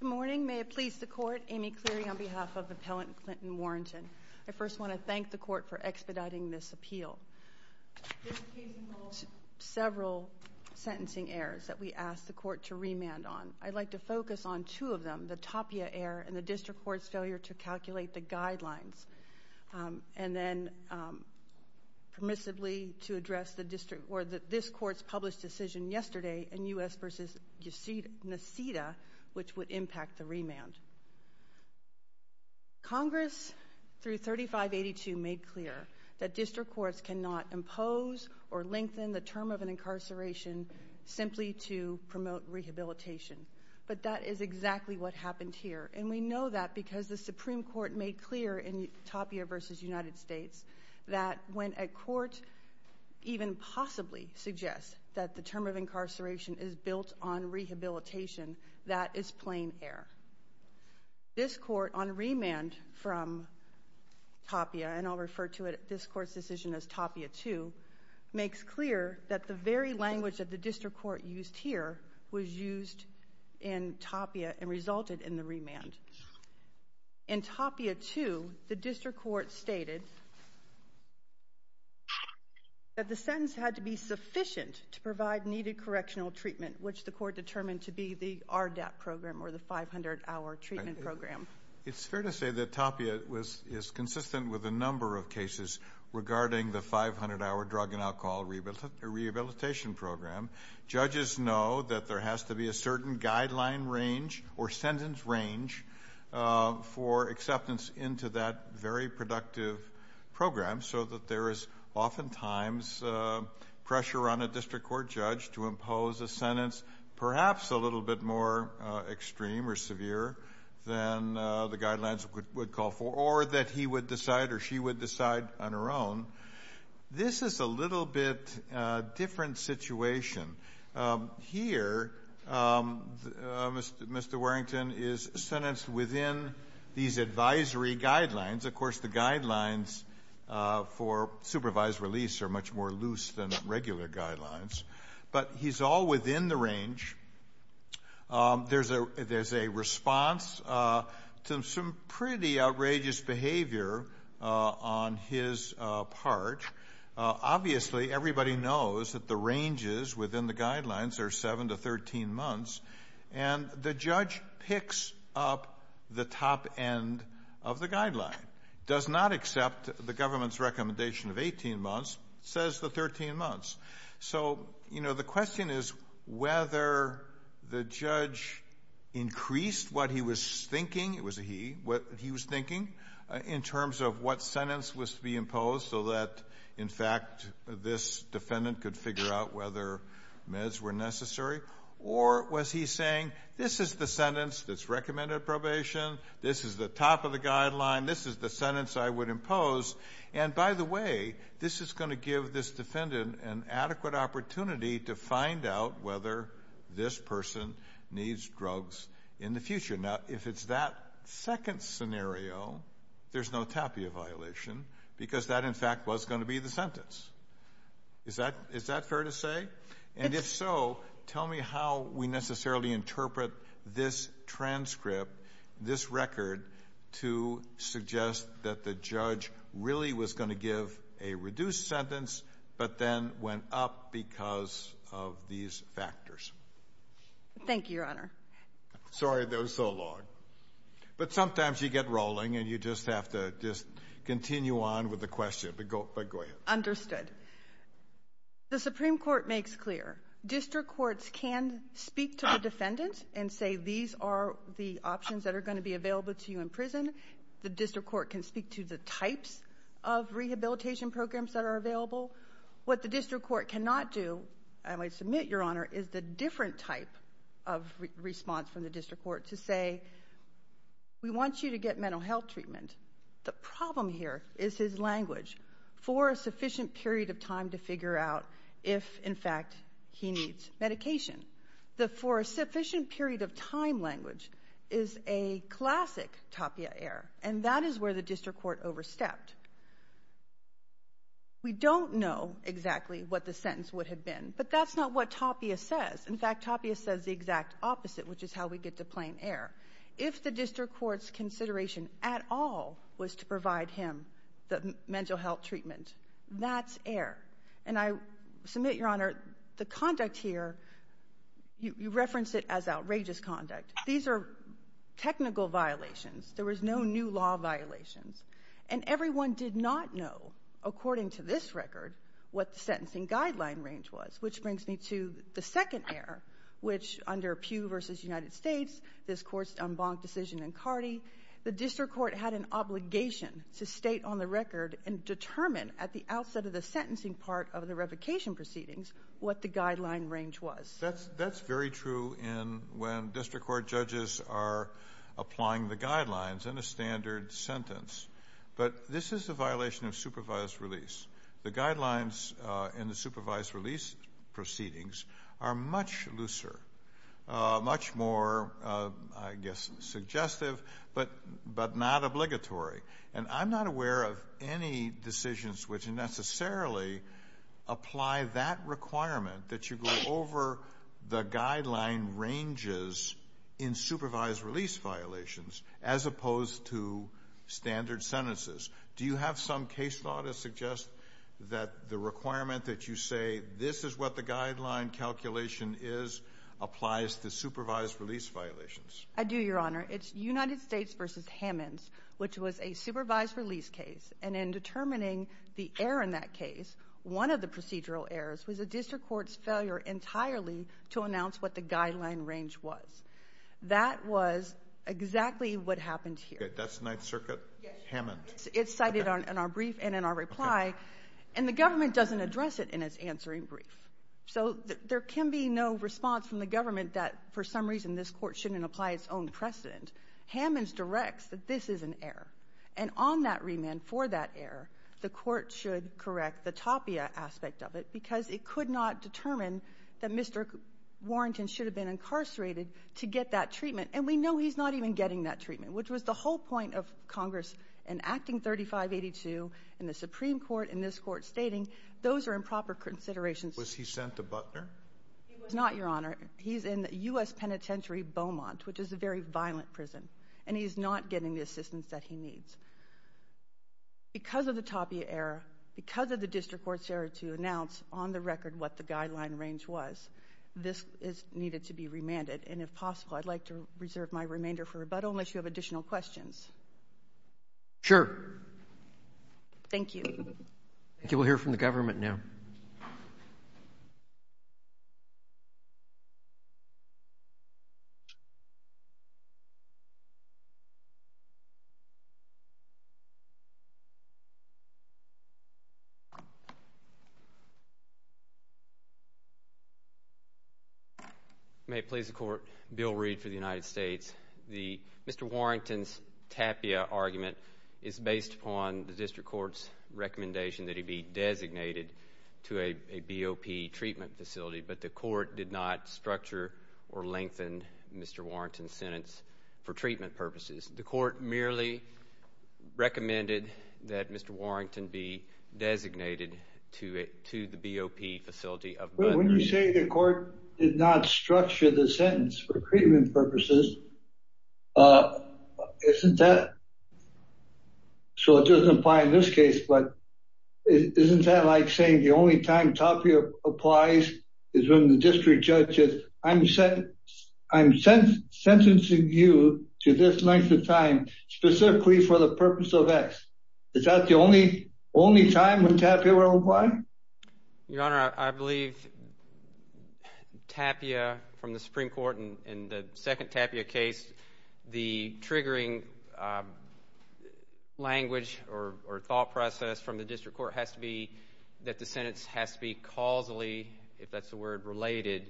Good morning. May it please the court, Amy Cleary on behalf of Appellant Clinton Warrington. I first want to thank the court for expediting this appeal. This case involved several sentencing errors that we asked the court to remand on. I'd like to focus on two of them, the Tapia error and the District Court's failure to calculate the guidelines. And then, permissibly, to address this court's published decision yesterday in U.S. v. Nacida, which would impact the remand. Congress, through 3582, made clear that District Courts cannot impose or lengthen the term of an incarceration simply to promote rehabilitation. But that is exactly what happened here. And we know that because the Supreme Court made clear in Tapia v. United States that when a court even possibly suggests that the term of incarceration is built on rehabilitation, that is plain error. This court, on remand from Tapia, and I'll refer to this court's decision as Tapia 2, makes clear that the very language that the District Court used here was used in Tapia and resulted in the remand. In Tapia 2, the District Court stated that the sentence had to be sufficient to provide needed correctional treatment, which the court determined to be the RDAP program or the 500-hour treatment program. It's fair to say that Tapia is consistent with a number of cases regarding the 500-hour drug and alcohol rehabilitation program. Judges know that there has to be a certain guideline range or sentence range for acceptance into that very productive program so that there is oftentimes pressure on a District Court judge to impose a sentence perhaps a little bit more extreme or severe than the guidelines would call for or that he would decide or she would decide on her own. This is a little bit different situation. Here, Mr. Warrington is sentenced within these advisory guidelines. Of course, the guidelines for supervised release are much more loose than regular guidelines, but he's all within the range. There's a response to some pretty outrageous behavior on his part. Obviously, everybody knows that the ranges within the guidelines are 7 to 13 months, and the judge picks up the top end of the guideline, does not accept the government's recommendation of 18 months, says the 13 months. So the question is whether the judge increased what he was thinking, it was a he, in terms of what sentence was to be imposed so that, in fact, this defendant could figure out whether meds were necessary, or was he saying this is the sentence that's recommended at probation, this is the top of the guideline, this is the sentence I would impose, and by the way, this is going to give this defendant an adequate opportunity to find out whether this person needs drugs in the future. Now, if it's that second scenario, there's no tapia violation, because that, in fact, was going to be the sentence. Is that fair to say? And if so, tell me how we necessarily interpret this transcript, this record, to suggest that the judge really was going to give a reduced sentence, but then went up because of these factors. Thank you, Your Honor. Sorry that was so long. But sometimes you get rolling, and you just have to just continue on with the question. But go ahead. Understood. The Supreme Court makes clear district courts can speak to a defendant and say these are the options that are going to be available to you in prison. The district court can speak to the types of rehabilitation programs that are available. What the district court cannot do, and I submit, Your Honor, is the different type of response from the district court to say, we want you to get mental health treatment. The problem here is his language, for a sufficient period of time to figure out if, in fact, he needs medication. The for a sufficient period of time language is a classic tapia error, and that is where the district court overstepped. We don't know exactly what the sentence would have been, but that's not what tapia says. In fact, tapia says the exact opposite, which is how we get to plain error. If the district court's consideration at all was to provide him the mental health treatment, that's error. And I submit, Your Honor, the conduct here, you reference it as outrageous conduct. These are technical violations. There was no new law violations. And everyone did not know, according to this record, what the sentencing guideline range was, which brings me to the second error, which, under Pew v. United States, this court's en banc decision in Cardi, the district court had an obligation to state on the record and determine at the outset of the sentencing part of the revocation proceedings what the guideline range was. That's very true when district court judges are applying the guidelines in a standard sentence. But this is a violation of supervised release. The guidelines in the supervised release proceedings are much looser, much more, I guess, suggestive, but not obligatory. And I'm not aware of any decisions which necessarily apply that requirement, that you go over the guideline ranges in supervised release violations as opposed to standard sentences. Do you have some case law to suggest that the requirement that you say this is what the guideline calculation is applies to supervised release violations? I do, Your Honor. It's United States v. Hammonds, which was a supervised release case. And in determining the error in that case, one of the procedural errors was the district court's failure entirely to announce what the guideline range was. That was exactly what happened here. That's Ninth Circuit, Hammonds. It's cited in our brief and in our reply. And the government doesn't address it in its answering brief. So there can be no response from the government that for some reason this Court shouldn't apply its own precedent. Hammonds directs that this is an error. And on that remand for that error, the Court should correct the topia aspect of it, because it could not determine that Mr. Warrington should have been incarcerated to get that treatment. And we know he's not even getting that treatment, which was the whole point of Congress in Acting 3582 and the Supreme Court in this Court stating those are improper considerations. Was he sent to Buckner? He was not, Your Honor. He's in U.S. Penitentiary Beaumont, which is a very violent prison. And he's not getting the assistance that he needs. Because of the topia error, because of the district court's error to announce on the record what the guideline range was, this is needed to be remanded. And if possible, I'd like to reserve my remainder for rebuttal unless you have additional questions. Sure. Thank you. Thank you. We'll hear from the government now. May it please the Court. Bill Reed for the United States. Mr. Warrington's topia argument is based upon the district court's recommendation that he be designated to a BOP treatment facility, but the court did not structure or lengthen Mr. Warrington's sentence for treatment purposes. The court merely recommended that Mr. Warrington be designated to the BOP facility of Buckner. When you say the court did not structure the sentence for treatment purposes, isn't that so it doesn't apply in this case, but isn't that like saying the only time topia applies is when the district judge says, I'm sentencing you to this length of time specifically for the purpose of X. Is that the only time when topia were applied? Your Honor, I believe topia from the Supreme Court in the second topia case, the triggering language or thought process from the district court has to be that the sentence has to be causally, if that's the word, related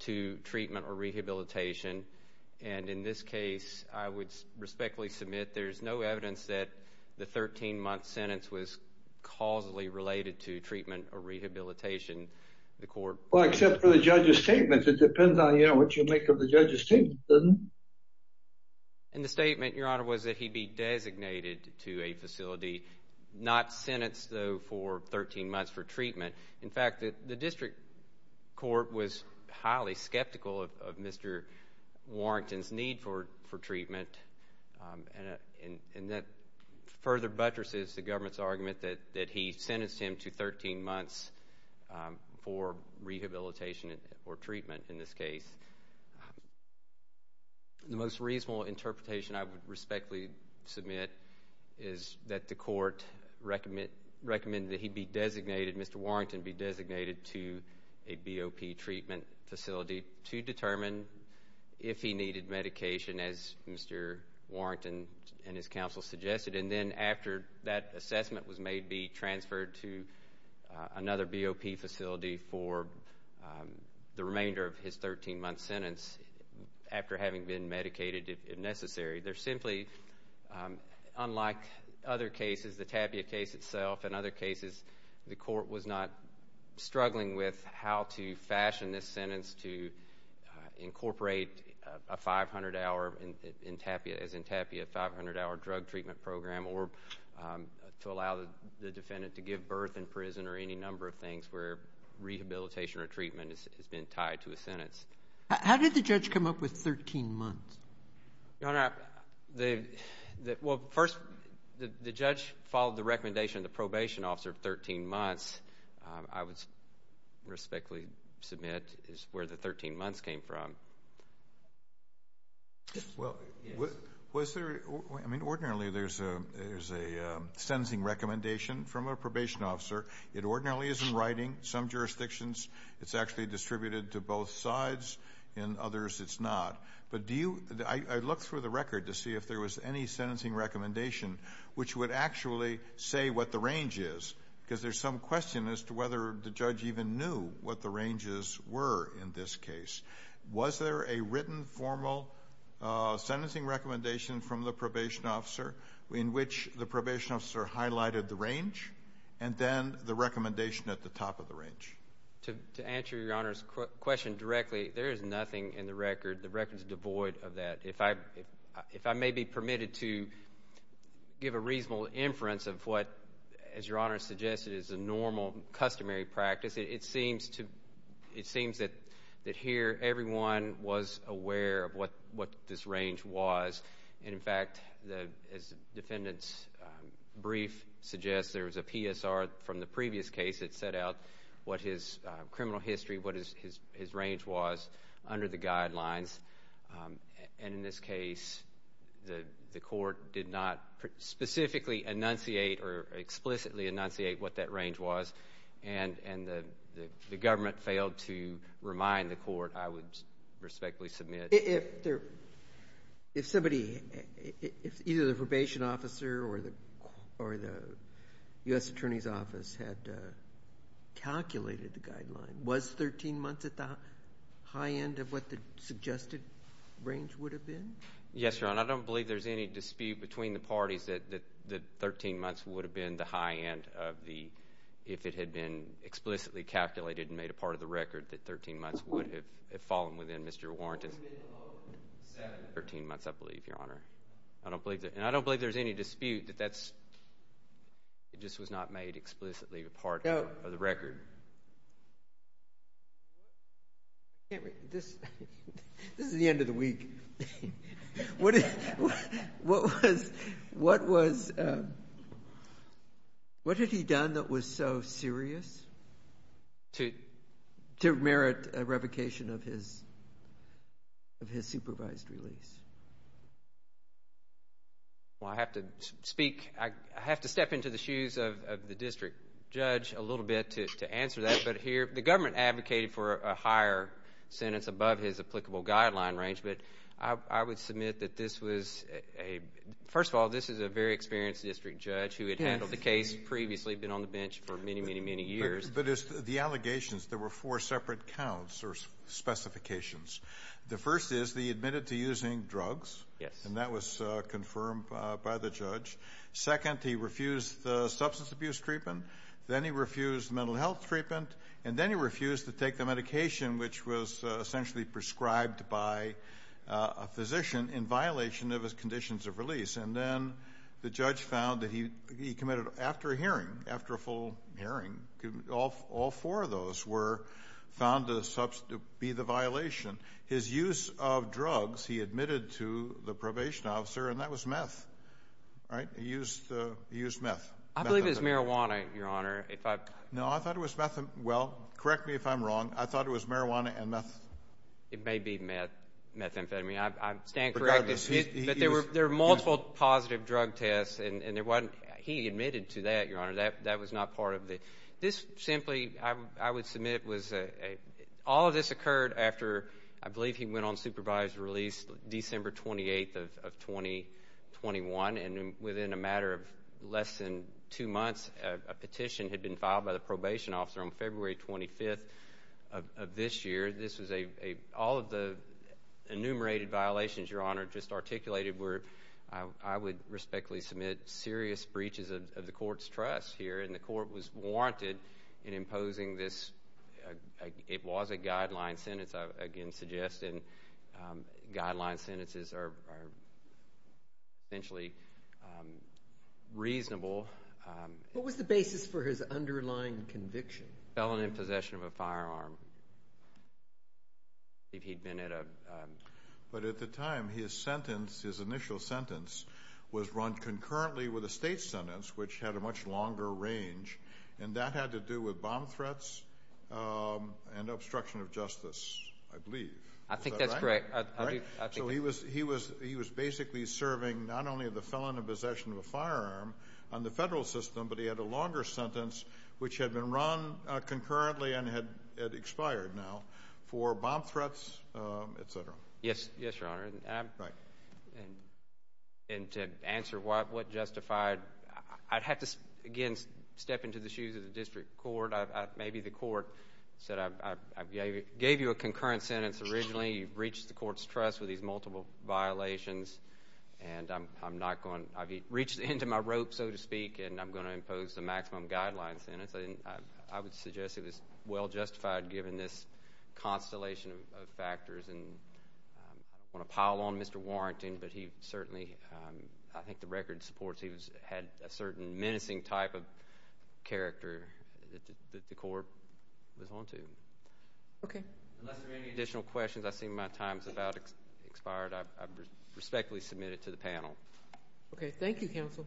to treatment or rehabilitation. And in this case, I would respectfully submit there's no evidence that the 13-month sentence was causally related to treatment or rehabilitation of the court. Well, except for the judge's statement. It depends on what you make of the judge's statement, doesn't it? And the statement, Your Honor, was that he be designated to a facility not sentenced, though, for 13 months for treatment. In fact, the district court was highly skeptical of Mr. Warrington's need for treatment, and that further buttresses the government's argument that he sentenced him to 13 months for rehabilitation or treatment in this case. The most reasonable interpretation I would respectfully submit is that the court recommended that he be designated, Mr. Warrington be designated to a BOP treatment facility to determine if he needed medication, as Mr. Warrington and his counsel suggested, and then after that assessment was made, be transferred to another BOP facility for the remainder of his 13-month sentence after having been medicated, if necessary. There's simply, unlike other cases, the Tapia case itself and other cases, the court was not struggling with how to fashion this sentence to incorporate a 500-hour in Tapia, as in Tapia, a 500-hour drug treatment program or to allow the defendant to give birth in prison or any number of things where rehabilitation or treatment has been tied to a sentence. How did the judge come up with 13 months? Your Honor, well, first, the judge followed the recommendation of the probation officer of 13 months. I would respectfully submit it's where the 13 months came from. Well, was there, I mean, ordinarily there's a sentencing recommendation from a probation officer. It ordinarily is in writing. Some jurisdictions, it's actually distributed to both sides. In others, it's not. But do you, I looked through the record to see if there was any sentencing recommendation which would actually say what the range is, because there's some question as to whether the judge even knew what the ranges were in this case. Was there a written formal sentencing recommendation from the probation officer in which the probation officer highlighted the range and then the recommendation at the top of the range? To answer Your Honor's question directly, there is nothing in the record. The record is devoid of that. If I may be permitted to give a reasonable inference of what, as Your Honor suggested, is a normal customary practice, it seems that here everyone was aware of what this range was. And, in fact, as the defendant's brief suggests, there was a PSR from the previous case that set out what his criminal history, what his range was under the guidelines. And in this case, the court did not specifically enunciate or explicitly enunciate what that range was. And the government failed to remind the court, I would respectfully submit. If somebody, either the probation officer or the U.S. Attorney's Office had calculated the guideline, was 13 months at the high end of what the suggested range would have been? Yes, Your Honor. I don't believe there's any dispute between the parties that 13 months would have been the high end of the, if it had been explicitly calculated and made a part of the record, that 13 months would have fallen within Mr. Warrant's- The limit of seven. Thirteen months, I believe, Your Honor. And I don't believe there's any dispute that that's, it just was not made explicitly a part of the record. This is the end of the week. What was, what had he done that was so serious? To merit a revocation of his supervised release. Well, I have to speak, I have to step into the shoes of the district judge a little bit to answer that. But here, the government advocated for a higher sentence above his applicable guideline range. But I would submit that this was a, first of all, this is a very experienced district judge who had handled the case previously, been on the bench for many, many, many years. But the allegations, there were four separate counts or specifications. The first is that he admitted to using drugs. Yes. And that was confirmed by the judge. Second, he refused the substance abuse treatment. Then he refused mental health treatment. And then he refused to take the medication which was essentially prescribed by a physician in violation of his conditions of release. And then the judge found that he committed, after a hearing, after a full hearing, all four of those were found to be the violation. His use of drugs, he admitted to the probation officer, and that was meth. He used meth. I believe it was marijuana, Your Honor. No, I thought it was, well, correct me if I'm wrong. I thought it was marijuana and meth. It may be meth, methamphetamine. I stand corrected. But there were multiple positive drug tests, and there wasn't, he admitted to that, Your Honor. That was not part of the, this simply, I would submit, was a, all of this occurred after, I believe, he went on supervised release December 28th of 2021, and within a matter of less than two months, a petition had been filed by the probation officer on February 25th of this year. This was a, all of the enumerated violations, Your Honor, just articulated were, I would respectfully submit serious breaches of the court's trust here, and the court was warranted in imposing this. It was a guideline sentence, I again suggest, and guideline sentences are essentially reasonable. What was the basis for his underlying conviction? Felon in possession of a firearm. If he'd been at a. But at the time, his sentence, his initial sentence, was run concurrently with a state sentence, which had a much longer range, and that had to do with bomb threats and obstruction of justice, I believe. I think that's correct. So he was basically serving not only the felon in possession of a firearm on the federal system, but he had a longer sentence, which had been run concurrently and had expired now, for bomb threats, etc. Yes, Your Honor. And to answer what justified, I'd have to, again, step into the shoes of the district court. Maybe the court said I gave you a concurrent sentence originally, you've reached the court's trust with these multiple violations, and I've reached the end of my rope, so to speak, and I'm going to impose the maximum guideline sentence. I would suggest it was well justified given this constellation of factors, and I don't want to pile on Mr. Warrington, but he certainly, I think the record supports, he had a certain menacing type of character that the court was on to. Okay. Unless there are any additional questions, I see my time has about expired. I respectfully submit it to the panel. Okay. Thank you, counsel.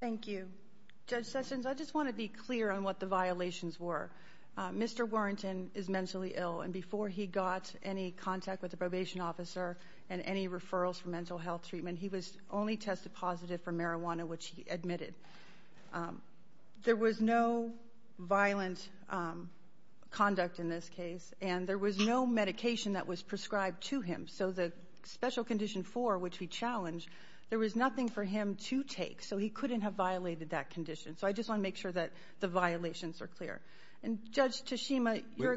Thank you. Judge Sessions, I just want to be clear on what the violations were. Mr. Warrington is mentally ill, and before he got any contact with a probation officer and any referrals for mental health treatment, he was only tested positive for marijuana, which he admitted. There was no violent conduct in this case, and there was no medication that was prescribed to him. So the special condition four, which we challenged, there was nothing for him to take, so he couldn't have violated that condition. So I just want to make sure that the violations are clear. And Judge Tashima, you're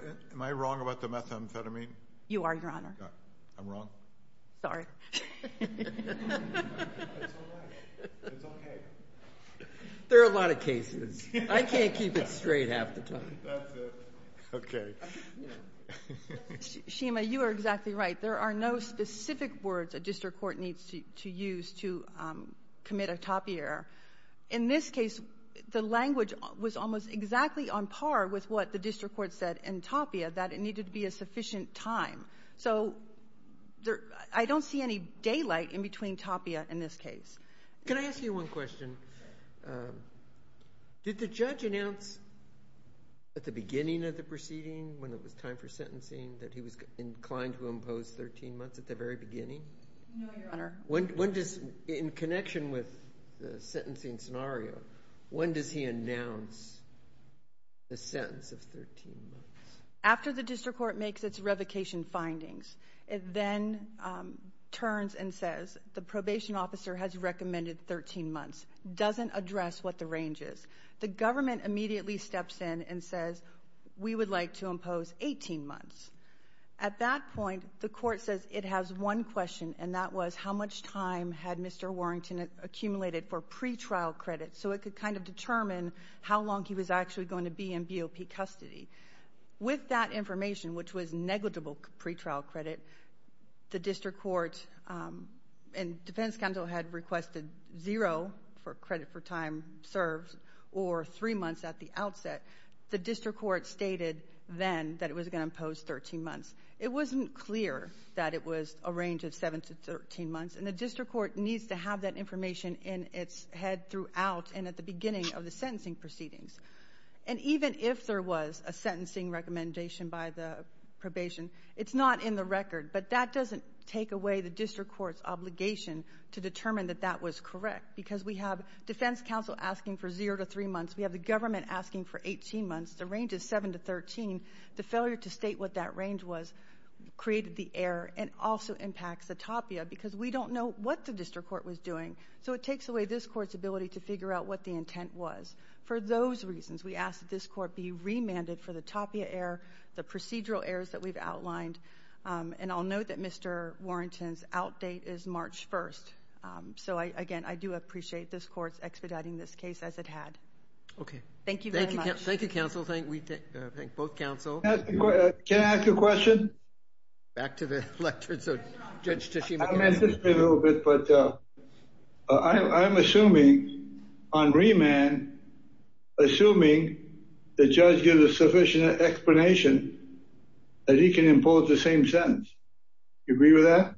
You are, Your Honor. I'm wrong? Sorry. It's all right. It's okay. There are a lot of cases. I can't keep it straight half the time. That's it. Okay. Shima, you are exactly right. There are no specific words a district court needs to use to commit a topiary. In this case, the language was almost exactly on par with what the district court said in Tapia, that it needed to be a sufficient time. So I don't see any daylight in between Tapia and this case. Can I ask you one question? Did the judge announce at the beginning of the proceeding, when it was time for sentencing, that he was inclined to impose 13 months at the very beginning? No, Your Honor. When does, in connection with the sentencing scenario, when does he announce the sentence of 13 months? After the district court makes its revocation findings, it then turns and says the probation officer has recommended 13 months, doesn't address what the range is. The government immediately steps in and says we would like to impose 18 months. At that point, the court says it has one question, and that was how much time had Mr. Warrington accumulated for pretrial credit so it could kind of determine how long he was actually going to be in BOP custody. With that information, which was negligible pretrial credit, the district court and defense counsel had requested zero for credit for time served or three months at the outset. The district court stated then that it was going to impose 13 months. It wasn't clear that it was a range of 7 to 13 months, and the district court needs to have that information in its head throughout and at the beginning of the sentencing proceedings. And even if there was a sentencing recommendation by the probation, it's not in the record. But that doesn't take away the district court's obligation to determine that that was correct because we have defense counsel asking for zero to three months. We have the government asking for 18 months. The range is 7 to 13. The failure to state what that range was created the error and also impacts the TAPIA because we don't know what the district court was doing. So it takes away this court's ability to figure out what the intent was. For those reasons, we ask that this court be remanded for the TAPIA error, the procedural errors that we've outlined. And I'll note that Mr. Warrington's outdate is March 1st. So, again, I do appreciate this court expediting this case as it had. Okay. Thank you very much. Thank you, counsel. Thank both counsel. Can I ask a question? Back to the lectern. So, Judge Tachibana. I'm assuming on remand, assuming the judge gives a sufficient explanation, that he can impose the same sentence. Do you agree with that?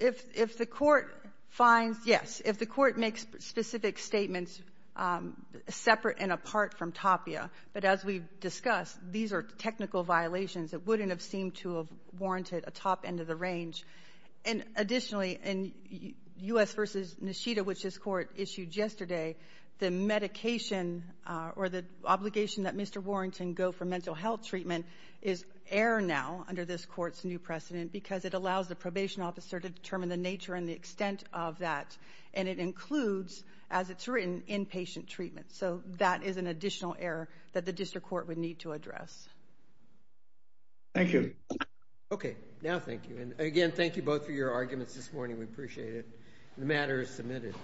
If the court finds, yes. If the court makes specific statements separate and apart from TAPIA, but as we've discussed, these are technical violations. It wouldn't have seemed to have warranted a top end of the range. And additionally, in U.S. v. Nishida, which this court issued yesterday, the medication or the obligation that Mr. Warrington go for mental health treatment is error now under this court's new precedent because it allows the probation officer to determine the nature and the extent of that. And it includes, as it's written, inpatient treatment. So that is an additional error that the district court would need to address. Thank you. Okay. Now thank you. And again, thank you both for your arguments this morning. We appreciate it. The matter is submitted.